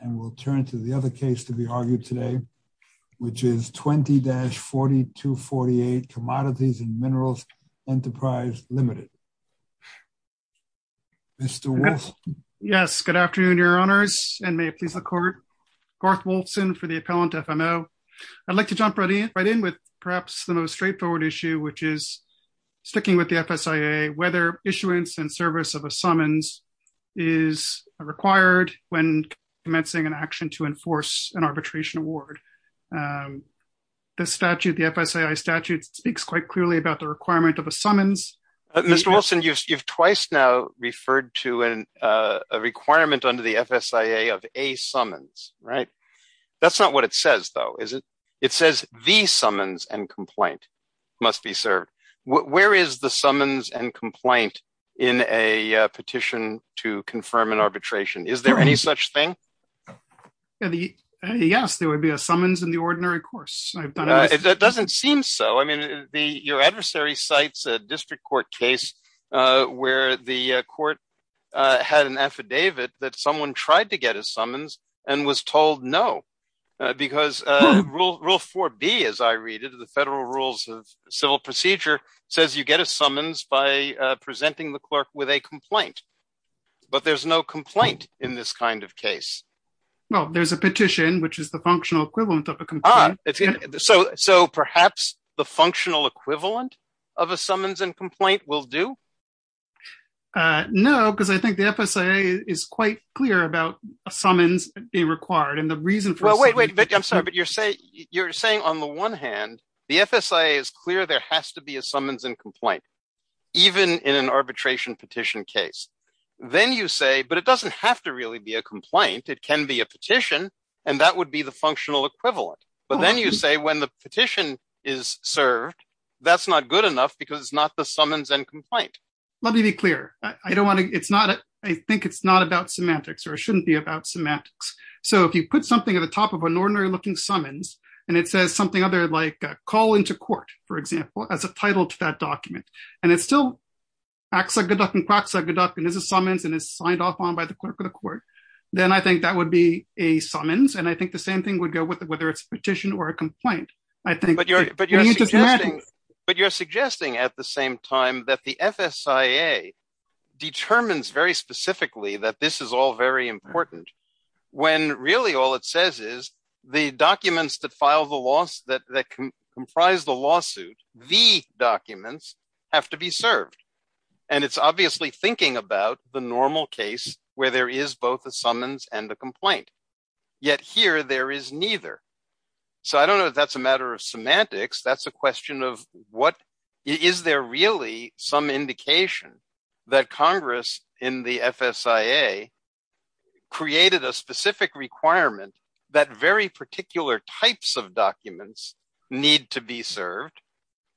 And we'll turn to the other case to be argued today, which is 20-4248 Commodities & Minerals Enterprise Limited. Mr. Wolf. Yes, good afternoon, your honors, and may it please the court. Garth Wolfson for the Appellant FMO. I'd like to jump right in with perhaps the most straightforward issue, which is sticking with the FSIA, whether issuance and service of a summons is required when commencing an action to enforce an arbitration award. The statute, the FSIA statute speaks quite clearly about the requirement of a summons. Mr. Wolfson, you've twice now referred to a requirement under the FSIA of a summons, right? That's not what it says though, is it? It says the summons and complaint must be served. Where is the summons and complaint in a petition to confirm an arbitration? Is there any such thing? Yes, there would be a summons in the ordinary course. It doesn't seem so. I mean, your adversary cites a district court case where the court had an affidavit that someone tried to get a summons and was told no, because rule 4B, as I read it, the Federal Rules of Civil Procedure says you get a summons by presenting the clerk with a complaint, but there's no complaint in this kind of case. Well, there's a petition, which is the functional equivalent of a complaint. So perhaps the functional equivalent of a summons and complaint will do? No, because I think the FSIA is quite clear about a summons being required, and the reason for- Well, wait, wait, I'm sorry, but you're saying on the one hand, the FSIA is clear there has to be a summons and complaint, even in an arbitration petition case. Then you say, but it doesn't have to really be a complaint. It can be a petition, and that would be the functional equivalent. But then you say when the petition is served, that's not good enough because it's not the summons and complaint. Let me be clear. I don't wanna, it's not, I think it's not about semantics or it shouldn't be about semantics. So if you put something at the top of an ordinary looking summons, and it says something other like call into court, for example, as a title to that document, and it still acts like a duck and quacks like a duck and is a summons and is signed off on by the clerk of the court, then I think that would be a summons. And I think the same thing would go with it, whether it's a petition or a complaint. I think- But you're suggesting at the same time that the FSIA determines very specifically that this is all very important when really all it says is the documents that file the loss that comprise the lawsuit, the documents have to be served. And it's obviously thinking about the normal case where there is both a summons and a complaint. Yet here there is neither. So I don't know if that's a matter of semantics. That's a question of what, is there really some indication that Congress in the FSIA created a specific requirement that very particular types of documents need to be served?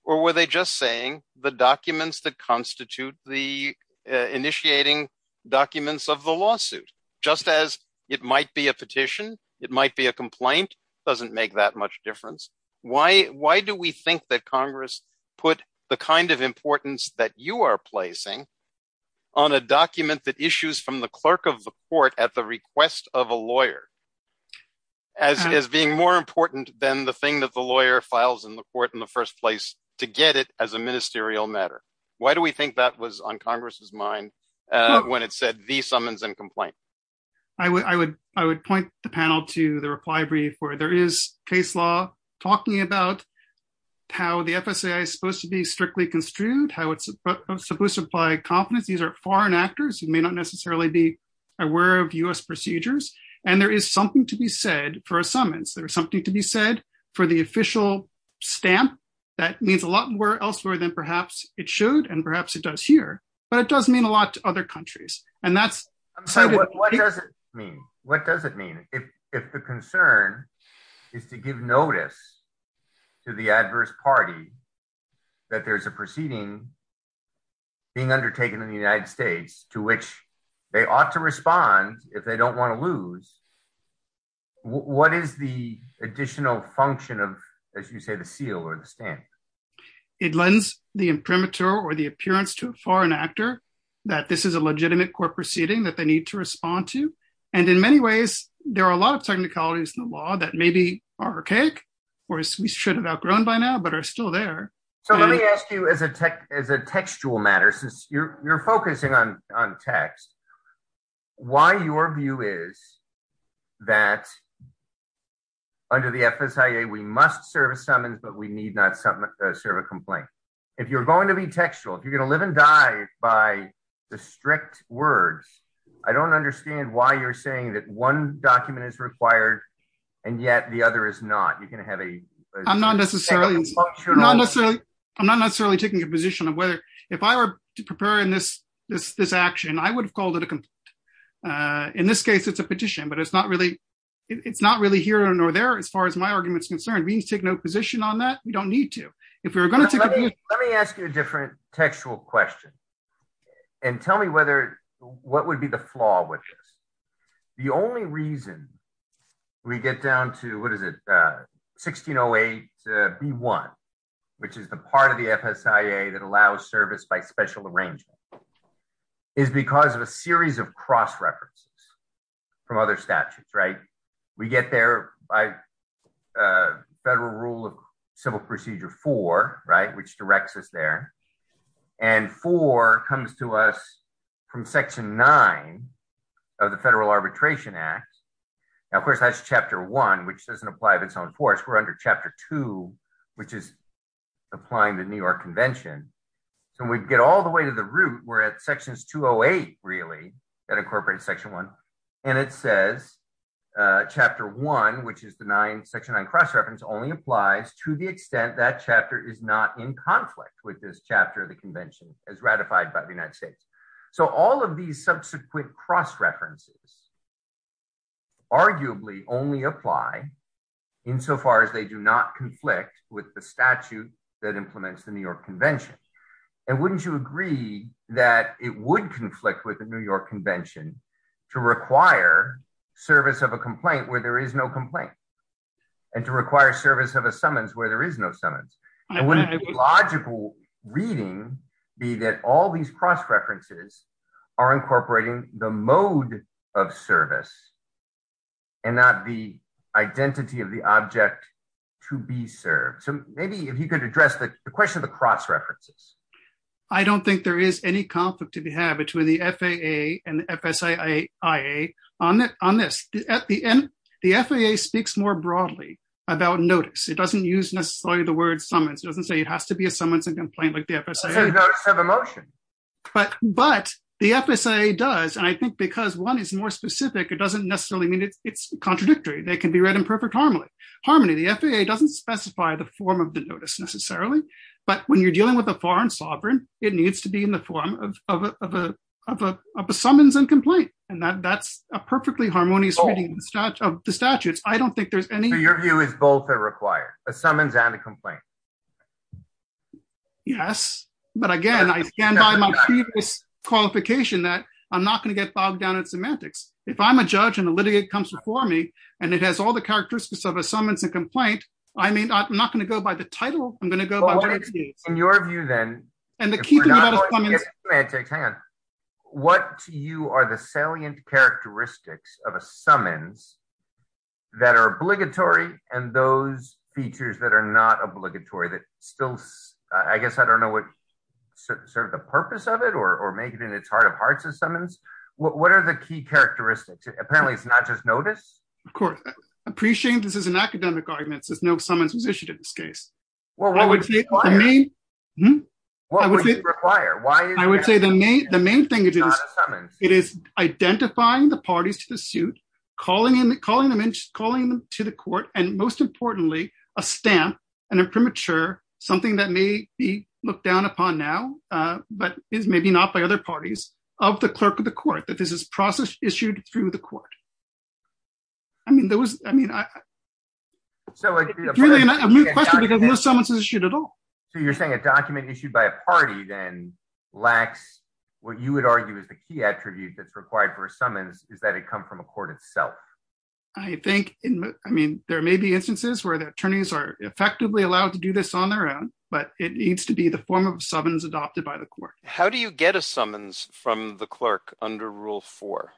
Or were they just saying the documents that constitute the initiating documents of the lawsuit? Just as it might be a petition, it might be a complaint, doesn't make that much difference. Why do we think that Congress put the kind of importance that you are placing on a document that issues from the clerk of the court at the request of a lawyer as being more important than the thing that the lawyer files in the court in the first place to get it as a ministerial matter? Why do we think that was on Congress's mind when it said the summons and complaint? I would point the panel to the reply brief where there is case law talking about how the FSIA is supposed to be strictly construed, how it's supposed to apply confidence. These are foreign actors who may not necessarily be aware of US procedures. And there is something to be said for a summons. There is something to be said for the official stamp that means a lot more elsewhere than perhaps it should, and perhaps it does here, but it does mean a lot to other countries. And that's- I'm sorry, what does it mean? What does it mean? If the concern is to give notice to the adverse party that there's a proceeding being undertaken in the United States to which they ought to respond if they don't want to lose, what is the additional function of, as you say, the seal or the stamp? It lends the imprimatur or the appearance to a foreign actor that this is a legitimate court proceeding that they need to respond to. And in many ways, there are a lot of technicalities in the law that maybe are archaic, or we should have outgrown by now, but are still there. So let me ask you as a textual matter, since you're focusing on text, why your view is that under the FSIA, we must serve a summons, but we need not serve a complaint. If you're going to be textual, if you're going to live and die by the strict words, I don't understand why you're saying that one document is required, and yet the other is not. You can have a- I'm not necessarily taking a position of whether, if I were to prepare in this action, I would have called it a complaint. In this case, it's a petition, but it's not really here nor there as far as my argument is concerned. We need to take no position on that. We don't need to. If we were going to take- Let me ask you a different textual question, and tell me what would be the flaw with this. The only reason we get down to, what is it, 1608B1, which is the part of the FSIA that allows service by special arrangement, is because of a series of cross-references from other statutes. We get there by Federal Rule of Civil Procedure 4, which directs us there, and 4 comes to us from Section 9 of the Federal Arbitration Act. Now, of course, that's Chapter 1, which doesn't apply of its own force. We're under Chapter 2, which is applying the New York Convention. So we'd get all the way to the root. We're at Sections 208, really, that incorporates Section 1, and it says Chapter 1, which is Section 9 cross-reference, only applies to the extent that chapter is not in conflict with this chapter of the Convention as ratified by the United States. So all of these subsequent cross-references arguably only apply insofar as they do not conflict with the statute that implements the New York Convention. And wouldn't you agree that it would conflict with the New York Convention to require service of a complaint where there is no complaint, and to require service of a summons where there is no summons? And wouldn't it be logical reading be that all these cross-references are incorporating the mode of service and not the identity of the object to be served? So maybe if you could address the question of the cross-references. I don't think there is any conflict to be had between the FAA and the FSIAIA on this. At the end, the FAA speaks more broadly about notice. It doesn't use necessarily the word summons. It doesn't say it has to be a summons and complaint like the FSIAIAIA. It's a notice of emotion. But the FSIA does, and I think because one is more specific, it doesn't necessarily mean it's contradictory. They can be read in perfect harmony. The FAA doesn't specify the form of the notice necessarily, but when you're dealing with a foreign sovereign, it needs to be in the form of a summons and complaint. And that's a perfectly harmonious reading of the statutes. I don't think there's any- So your view is both are required, a summons and a complaint? Yes, but again, I stand by my previous qualification that I'm not going to get bogged down in semantics. If I'm a judge and a litigate comes before me and it has all the characteristics of a summons and complaint, I'm not going to go by the title. I'm going to go by the states. In your view then, if we're not going to get semantics, hang on, what to you are the salient characteristics of a summons that are obligatory and those features that are not obligatory that still, I guess, I don't know what sort of the purpose of it or make it in its heart of hearts as summons. What are the key characteristics? Apparently it's not just notice. Of course, appreciating this as an academic argument says no summons was issued in this case. Well, I would say- What would you require? I would say the main thing is it is identifying the parties to the suit, calling them to the court and most importantly, a stamp and a premature, something that may be looked down upon now, but is maybe not by other parties of the clerk of the court that this is process issued through the court. I mean, there was, I mean, so a new question because no summons is issued at all. So you're saying a document issued by a party then lacks what you would argue is the key attribute that's required for a summons is that it come from a court itself. I think, I mean, there may be instances where the attorneys are effectively allowed to do this on their own, but it needs to be the form of summons adopted by the court. How do you get a summons from the clerk under rule four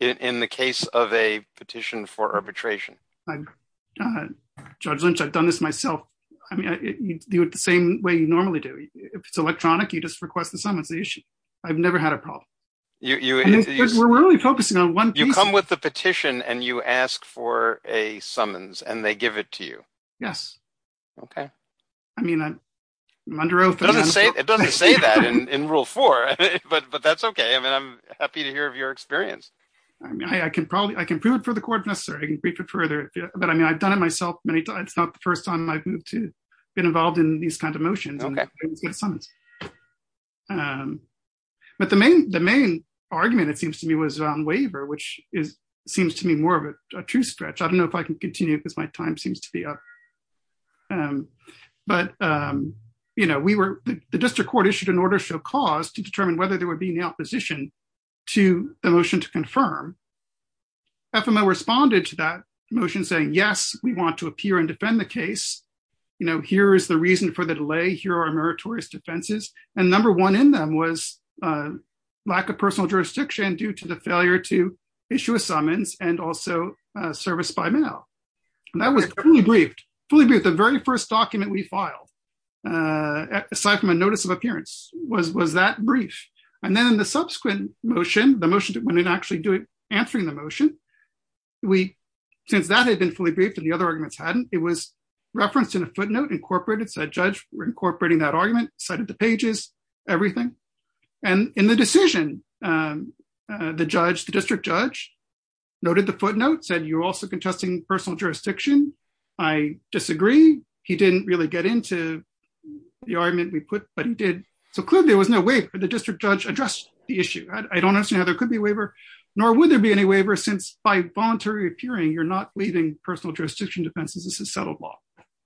in the case of a petition for arbitration? Judge Lynch, I've done this myself. I mean, you do it the same way you normally do. If it's electronic, you just request the summons issue. I've never had a problem. You- We're only focusing on one piece. So you come with the petition and you ask for a summons and they give it to you. Yes. Okay. I mean, I'm under oath. It doesn't say that in rule four, but that's okay. I mean, I'm happy to hear of your experience. I mean, I can prove it for the court if necessary. I can brief it further, but I mean, I've done it myself. It's not the first time I've been involved in these kinds of motions and summons. But the main argument it seems to me was on waiver, which seems to me more of a true stretch. I don't know if I can continue because my time seems to be up. But the district court issued an order show cause to determine whether there would be an opposition to the motion to confirm. FMO responded to that motion saying, yes, we want to appear and defend the case. Here's the reason for the delay. Here are our meritorious defenses. And number one in them was lack of personal jurisdiction due to the failure to issue a summons and also service by mail. And that was fully briefed. Fully briefed, the very first document we filed aside from a notice of appearance was that brief. And then in the subsequent motion, the motion that went in actually answering the motion, since that had been fully briefed and the other arguments hadn't, it was referenced in a footnote incorporated. So a judge were incorporating that argument, cited the pages, everything. And in the decision, the judge, the district judge noted the footnotes and you're also contesting personal jurisdiction. I disagree. He didn't really get into the argument we put, but he did. So clearly there was no way for the district judge addressed the issue. I don't understand how there could be a waiver nor would there be any waiver since by voluntary appearing, you're not leaving personal jurisdiction defenses. This is settled law.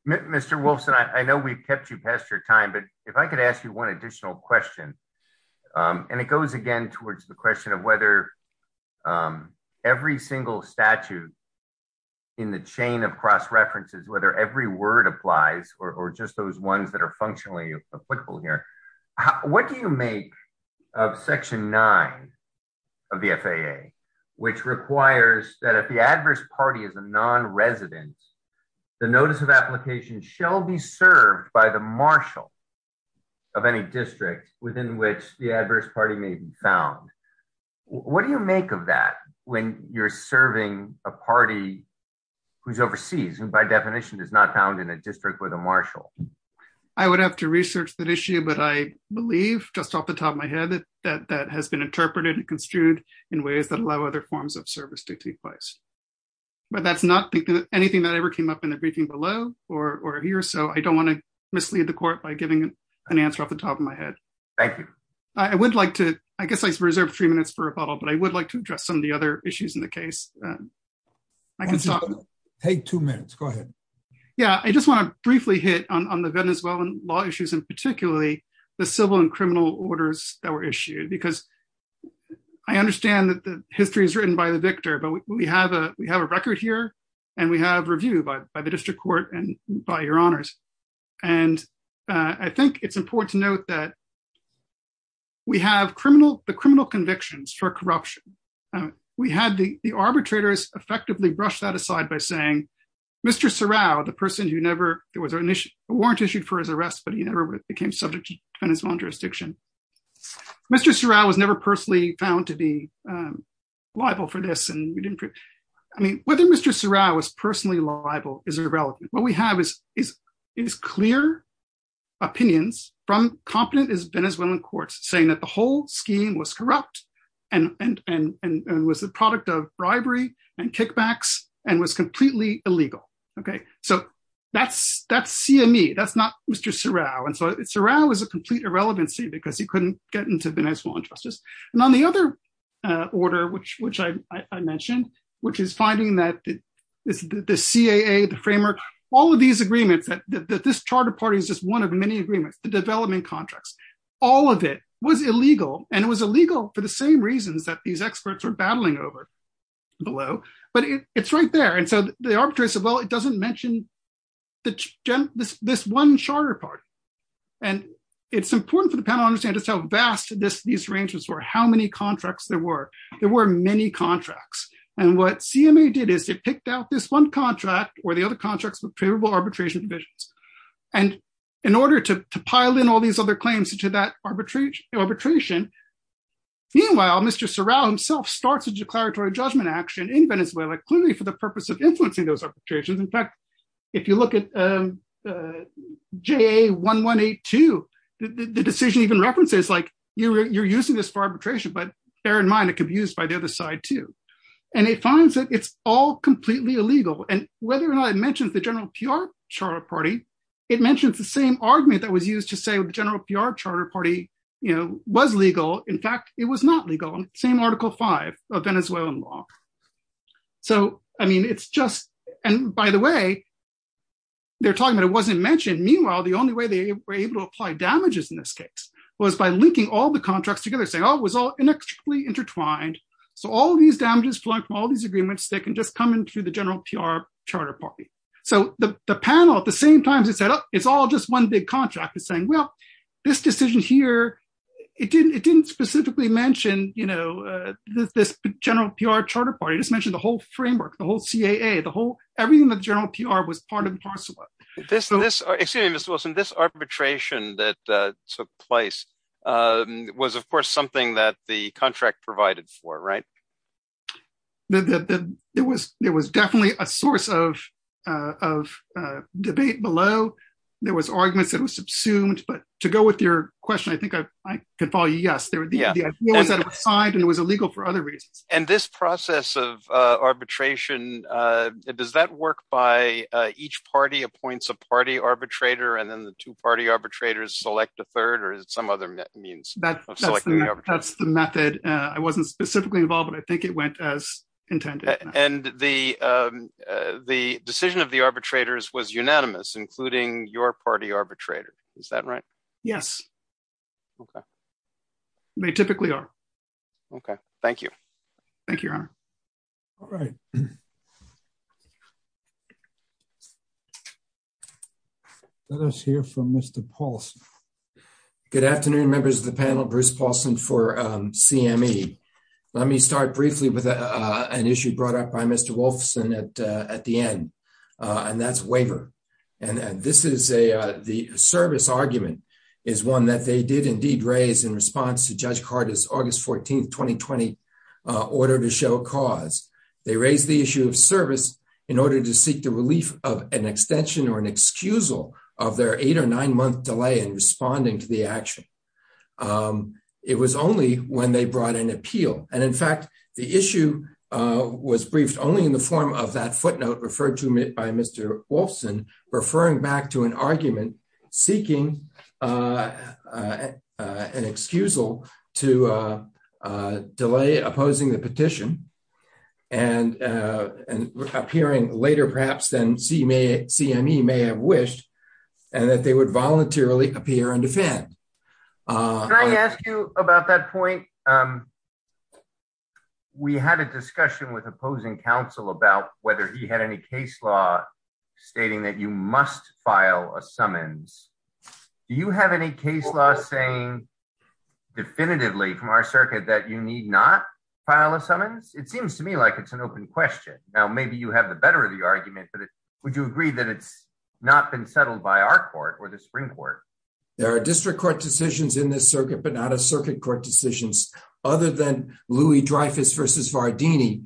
Mr. Wolfson, I know we've kept you past your time, but if I could ask you one additional question and it goes again towards the question of whether every single statute in the chain of cross-references, whether every word applies or just those ones that are functionally applicable here, what do you make of section nine of the FAA, which requires that if the adverse party is a non-resident, the notice of application shall be served by the marshal of any district within which the adverse party may be found. What do you make of that when you're serving a party who's overseas and by definition is not found in a district with a marshal? I would have to research that issue, but I believe just off the top of my head that that has been interpreted and construed in ways that allow other forms of service to take place. But that's not anything that ever came up in the briefing below or here. So I don't wanna mislead the court by giving an answer off the top of my head. Thank you. I would like to, I guess I reserved three minutes for rebuttal, but I would like to address some of the other issues in the case. I can stop. Take two minutes, go ahead. Yeah, I just wanna briefly hit on the Venezuelan law issues and particularly the civil and criminal orders that were issued because I understand that the history is written by the victor, but we have a record here and we have review by the district court and by your honors. And I think it's important to note that we have the criminal convictions for corruption. We had the arbitrators effectively brush that aside by saying, Mr. Serrao, the person who never, there was a warrant issued for his arrest, but he never became subject to defensible jurisdiction. Mr. Serrao was never personally found to be liable for this. I mean, whether Mr. Serrao was personally liable is irrelevant. What we have is clear opinions from competent Venezuelan courts saying that the whole scheme was corrupt and was the product of bribery and kickbacks and was completely illegal. So that's CME, that's not Mr. Serrao. And so Serrao was a complete irrelevancy because he couldn't get into Venezuelan justice. And on the other order, which I mentioned, which is finding that the CAA, the framework, all of these agreements that this charter party is just one of many agreements, the development contracts, all of it was illegal. And it was illegal for the same reasons that these experts are battling over below, but it's right there. And so the arbitrators said, well, it doesn't mention this one charter party. And it's important for the panel to understand just how vast these arrangements were, how many contracts there were. There were many contracts. And what CMA did is it picked out this one contract or the other contracts with favorable arbitration divisions. And in order to pile in all these other claims to that arbitration, meanwhile, Mr. Serrao himself starts a declaratory judgment action in Venezuela clearly for the purpose of influencing those arbitrations. In fact, if you look at JA1182, the decision even references like, you're using this for arbitration, but bear in mind, it could be used by the other side too. And it finds that it's all completely illegal. And whether or not it mentions the general PR charter party, it mentions the same argument that was used to say the general PR charter party was legal. In fact, it was not legal. Same article five of Venezuelan law. So, I mean, it's just, and by the way, they're talking about it wasn't mentioned. And meanwhile, the only way they were able to apply damages in this case was by linking all the contracts together, saying, oh, it was all inextricably intertwined. So all of these damages flowing from all these agreements, they can just come into the general PR charter party. So the panel, at the same time they set up, it's all just one big contract is saying, well, this decision here, it didn't specifically mention this general PR charter party. It just mentioned the whole framework, the whole CAA, the whole, everything that general PR was part of. This, excuse me, Mr. Wilson, this arbitration that took place was of course something that the contract provided for, right? There was definitely a source of debate below. There was arguments that was subsumed, but to go with your question, I think I can follow you. Yes, the idea was that it was signed and it was illegal for other reasons. And this process of arbitration, does that work by each party appoints a party arbitrator and then the two party arbitrators select a third or is it some other means of selecting the arbitrator? That's the method. I wasn't specifically involved, but I think it went as intended. And the decision of the arbitrators was unanimous, including your party arbitrator, is that right? Okay. They typically are. Okay, thank you. Thank you, Your Honor. All right. Let us hear from Mr. Paulson. Good afternoon, members of the panel, Bruce Paulson for CME. Let me start briefly with an issue brought up by Mr. Wolfson at the end, and that's waiver. And this is the service argument is one that they did indeed raise in response to Judge Carter's August 14th, 2020 order to show cause. They raised the issue of service in order to seek the relief of an extension or an excusal of their eight or nine month delay in responding to the action. It was only when they brought an appeal. And in fact, the issue was briefed only in the form of that footnote referred to by Mr. Wolfson, referring back to an argument, seeking an excusal to delay opposing the petition and appearing later perhaps than CME may have wished and that they would voluntarily appear and defend. Can I ask you about that point? We had a discussion with opposing counsel about whether he had any case law stating that you must file a summons. Do you have any case law saying definitively from our circuit that you need not file a summons? It seems to me like it's an open question. Now, maybe you have the better of the argument, but would you agree that it's not been settled by our court or the Supreme Court? There are district court decisions in this circuit, but not a circuit court decisions other than Louis Dreyfus versus Vardini,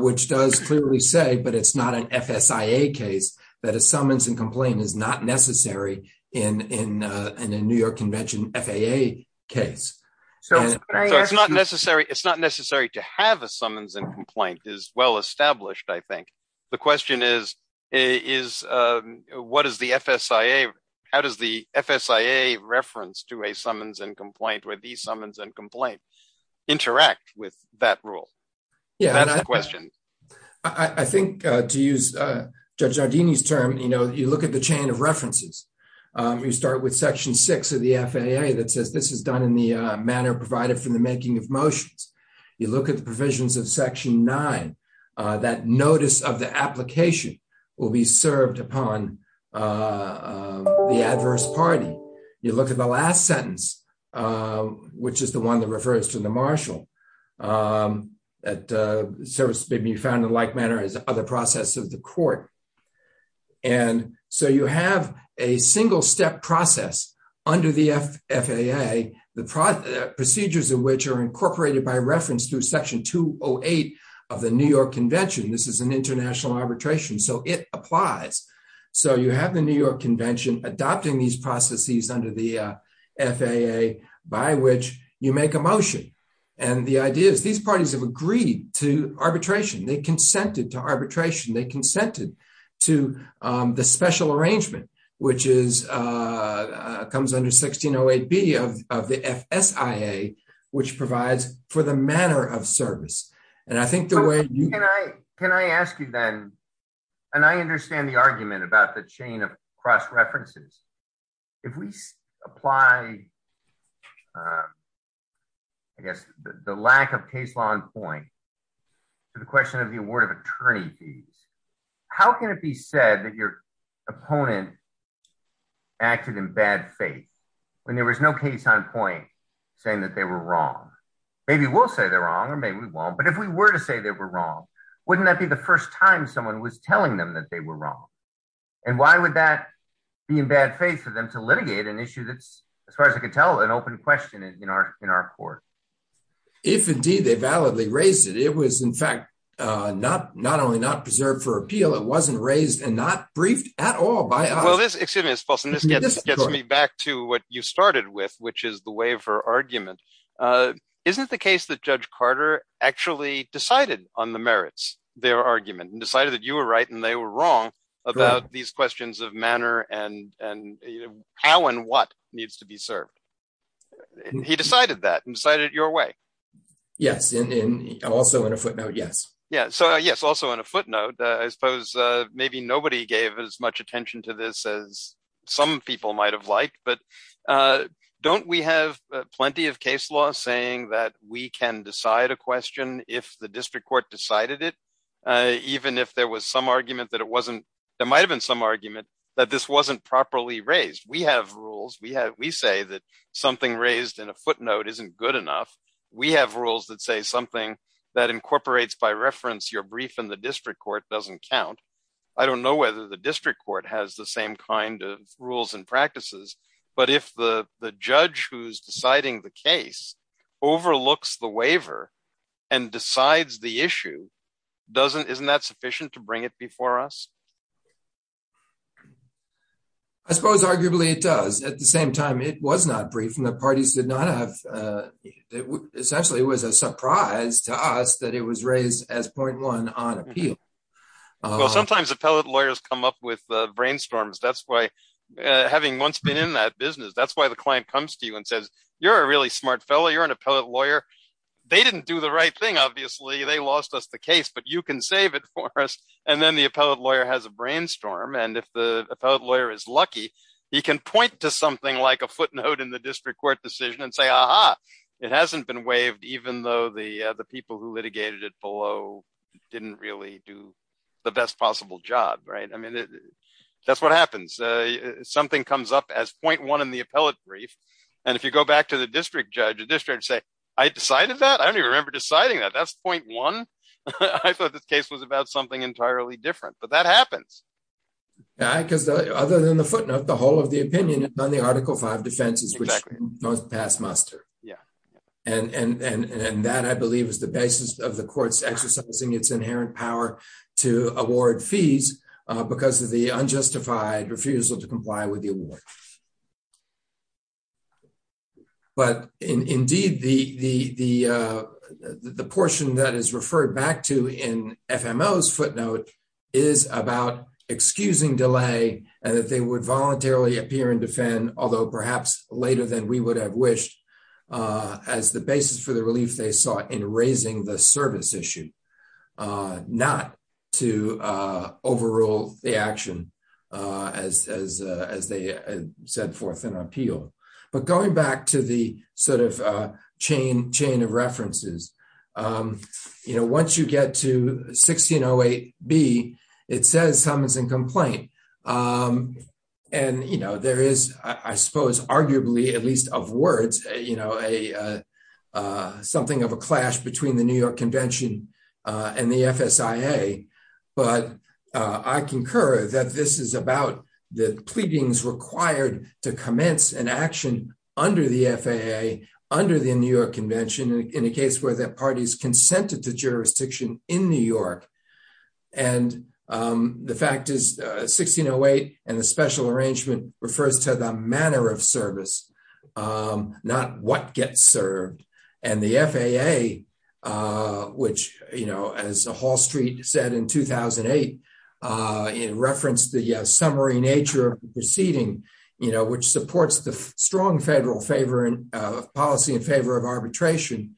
which does clearly say, but it's not an FSIA case, that a summons and complaint is not necessary in a New York convention FAA case. It's not necessary to have a summons and complaint is well-established, I think. The question is, what is the FSIA? How does the FSIA reference to a summons and complaint where these summons and complaint interact with that rule? Yeah, that's the question. I think to use Judge Vardini's term, you look at the chain of references. You start with section six of the FAA that says this is done in the manner provided for the making of motions. You look at the provisions of section nine, that notice of the application will be served upon the adverse party. You look at the last sentence, which is the one that refers to the marshal that service may be found in like manner as other process of the court. And so you have a single step process under the FAA, the procedures of which are incorporated by reference through section 208 of the New York convention. This is an international arbitration, so it applies. So you have the New York convention adopting these processes under the FAA by which you make a motion. And the idea is these parties have agreed to arbitration. They consented to arbitration. They consented to the special arrangement, which comes under 1608B of the FSIA, which provides for the manner of service. And I think the way you- Can I ask you then, and I understand the argument about the chain of cross-references. If we apply, I guess, the lack of case law in point to the question of the award of attorney fees, how can it be said that your opponent acted in bad faith when there was no case on point saying that they were wrong? Maybe we'll say they're wrong, or maybe we won't, but if we were to say they were wrong, wouldn't that be the first time someone was telling them that they were wrong? And why would that be in bad faith for them to litigate an issue that's, as far as I can tell, an open question in our court? If indeed they validly raised it, it was, in fact, not only not preserved for appeal, it wasn't raised and not briefed at all by us. Well, this, excuse me, it's false, and this gets me back to what you started with, which is the waiver argument. Isn't it the case that Judge Carter actually decided on the merits, their argument, and decided that you were right and they were wrong about these questions of manner and how and what needs to be served? He decided that and decided it your way. Yes, and also in a footnote, yes. Yeah, so yes, also in a footnote, I suppose maybe nobody gave as much attention to this as some people might've liked, but don't we have plenty of case law saying that we can decide a question if the district court decided it, even if there was some argument that it wasn't, there might've been some argument that this wasn't properly raised. We have rules. We say that something raised in a footnote isn't good enough. We have rules that say something that incorporates by reference your brief in the district court doesn't count. I don't know whether the district court has the same kind of rules and practices, but if the judge who's deciding the case overlooks the waiver and decides the issue, isn't that sufficient to bring it before us? I suppose arguably it does. At the same time, it was not brief and the parties did not have, essentially it was a surprise to us that it was raised as 0.1 on appeal. Well, sometimes appellate lawyers come up with the brainstorms. That's why having once been in that business, that's why the client comes to you and says, you're a really smart fellow. You're an appellate lawyer. They didn't do the right thing, obviously. They lost us the case, but you can save it for us. And then the appellate lawyer has a brainstorm. And if the appellate lawyer is lucky, he can point to something like a footnote in the district court decision and say, aha, it hasn't been waived, even though the people who litigated it below didn't really do the best possible job, right? I mean, that's what happens. Something comes up as 0.1 in the appellate brief. And if you go back to the district judge, the district judge say, I decided that? I don't even remember deciding that. That's 0.1? I thought this case was about something entirely different, but that happens. Yeah, because other than the footnote, the whole of the opinion is on the Article V defenses, which most pass muster. Yeah. And that I believe is the basis of the courts exercising its inherent power to award fees because of the unjustified refusal to comply with the award. But indeed, the portion that is referred back to in FMO's footnote is about excusing delay and that they would voluntarily appear and defend, although perhaps later than we would have wished as the basis for the relief they sought in raising the service issue, not to overrule the action as they set forth an appeal. But going back to the sort of chain of references, once you get to 1608B, it says summons and complaint. And there is, I suppose, arguably, at least of words, something of a clash between the New York Convention and the FSIA. But I concur that this is about the pleadings required to commence an action under the FAA, under the New York Convention, in a case where that party's consented to jurisdiction in New York. And the fact is 1608 and the special arrangement refers to the manner of service, not what gets served. And the FAA, which, as Hall Street said in 2008, in reference to the summary nature of the proceeding, which supports the strong federal policy in favor of arbitration.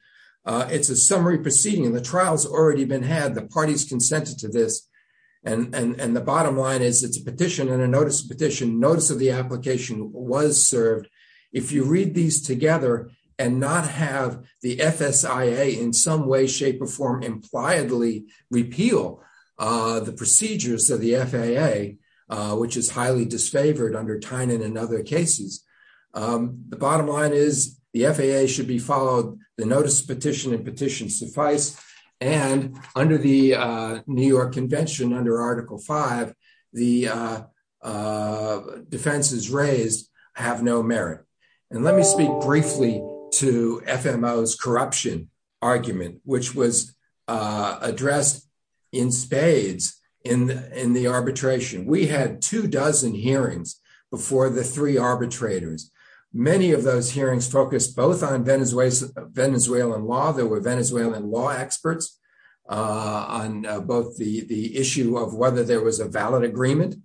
It's a summary proceeding and the trial's already been had. The party's consented to this. And the bottom line is it's a petition and a notice of petition. Notice of the application was served. If you read these together and not have the FSIA in some way, shape or form, impliedly repeal the procedures of the FAA, which is highly disfavored under Tynan and other cases. The bottom line is the FAA should be followed. The notice of petition and petition suffice. And under the New York Convention, under Article V, the defenses raised have no merit. And let me speak briefly to FMO's corruption argument, which was addressed in spades in the arbitration. We had two dozen hearings before the three arbitrators. Many of those hearings focused both on Venezuelan law. There were Venezuelan law experts on both the issue of whether there was a valid agreement,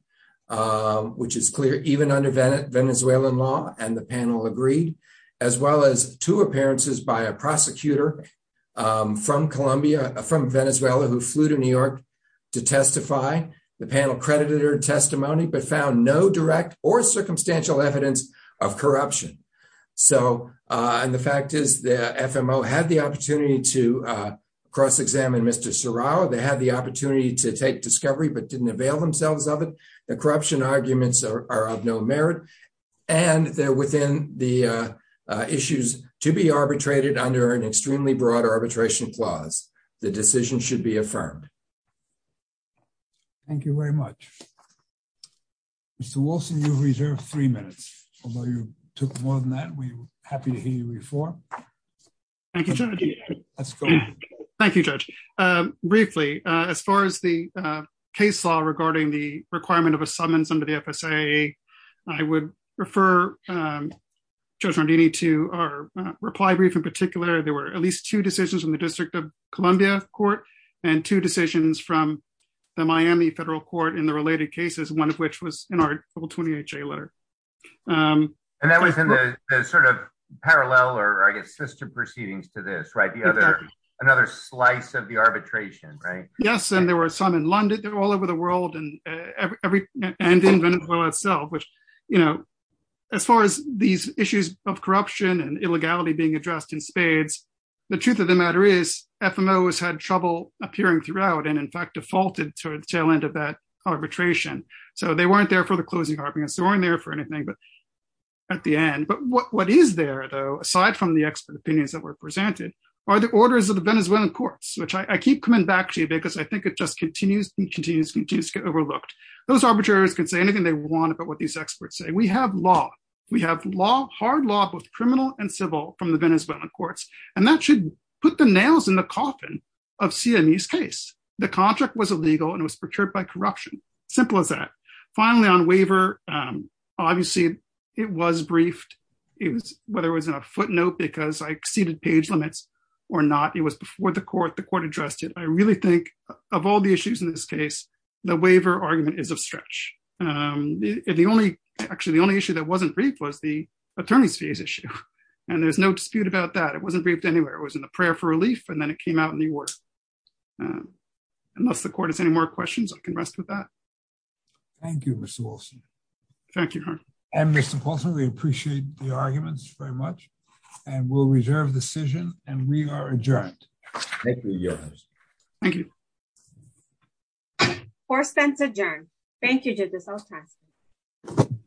which is clear even under Venezuelan law, and the panel agreed, as well as two appearances by a prosecutor from Colombia, from Venezuela, who flew to New York to testify. The panel credited her testimony, but found no direct or circumstantial evidence of corruption. So, and the fact is the FMO had the opportunity to cross-examine Mr. Serrao. They had the opportunity to take discovery, but didn't avail themselves of it. The corruption arguments are of no merit. And they're within the issues to be arbitrated under an extremely broad arbitration clause. The decision should be affirmed. Thank you very much. Mr. Wilson, you reserve three minutes. Although you took more than that, we're happy to hear you reform. Thank you, Judge. Let's go. Thank you, Judge. Briefly, as far as the case law regarding the requirement of a summons under the FSA, I would refer Judge Rondini to our reply brief, there were at least two decisions from the District of Columbia Court and two decisions from the Miami Federal Court in the related cases, one of which was in our double 20HA letter. And that was in the sort of parallel or I guess system proceedings to this, right? The other, another slice of the arbitration, right? Yes, and there were some in London, they're all over the world and in Venezuela itself, which, you know, as far as these issues of corruption and illegality being addressed in spades, the truth of the matter is, FMO has had trouble appearing throughout and in fact defaulted to the tail end of that arbitration. So they weren't there for the closing arguments, they weren't there for anything at the end. But what is there though, aside from the expert opinions that were presented, are the orders of the Venezuelan courts, which I keep coming back to you because I think it just continues to get overlooked. Those arbitrators can say anything they want about what these experts say. We have law. Hard law, both criminal and civil from the Venezuelan courts. And that should put the nails in the coffin of Siamese case. The contract was illegal and it was procured by corruption. Simple as that. Finally, on waiver, obviously it was briefed. It was, whether it was in a footnote because I exceeded page limits or not, it was before the court, the court addressed it. I really think of all the issues in this case, the waiver argument is a stretch. The only, actually the only issue that wasn't briefed was the attorney's fees issue. And there's no dispute about that. It wasn't briefed anywhere. It was in the prayer for relief and then it came out in the award. Unless the court has any more questions, I can rest with that. Thank you, Mr. Wilson. Thank you, Your Honor. And Mr. Paulson, we appreciate the arguments very much and we'll reserve the decision and we are adjourned. Thank you, Your Honor. Thank you. Court is adjourned. Thank you, Justice Olsak. Thank you. Thank you. Thank you. Thank you.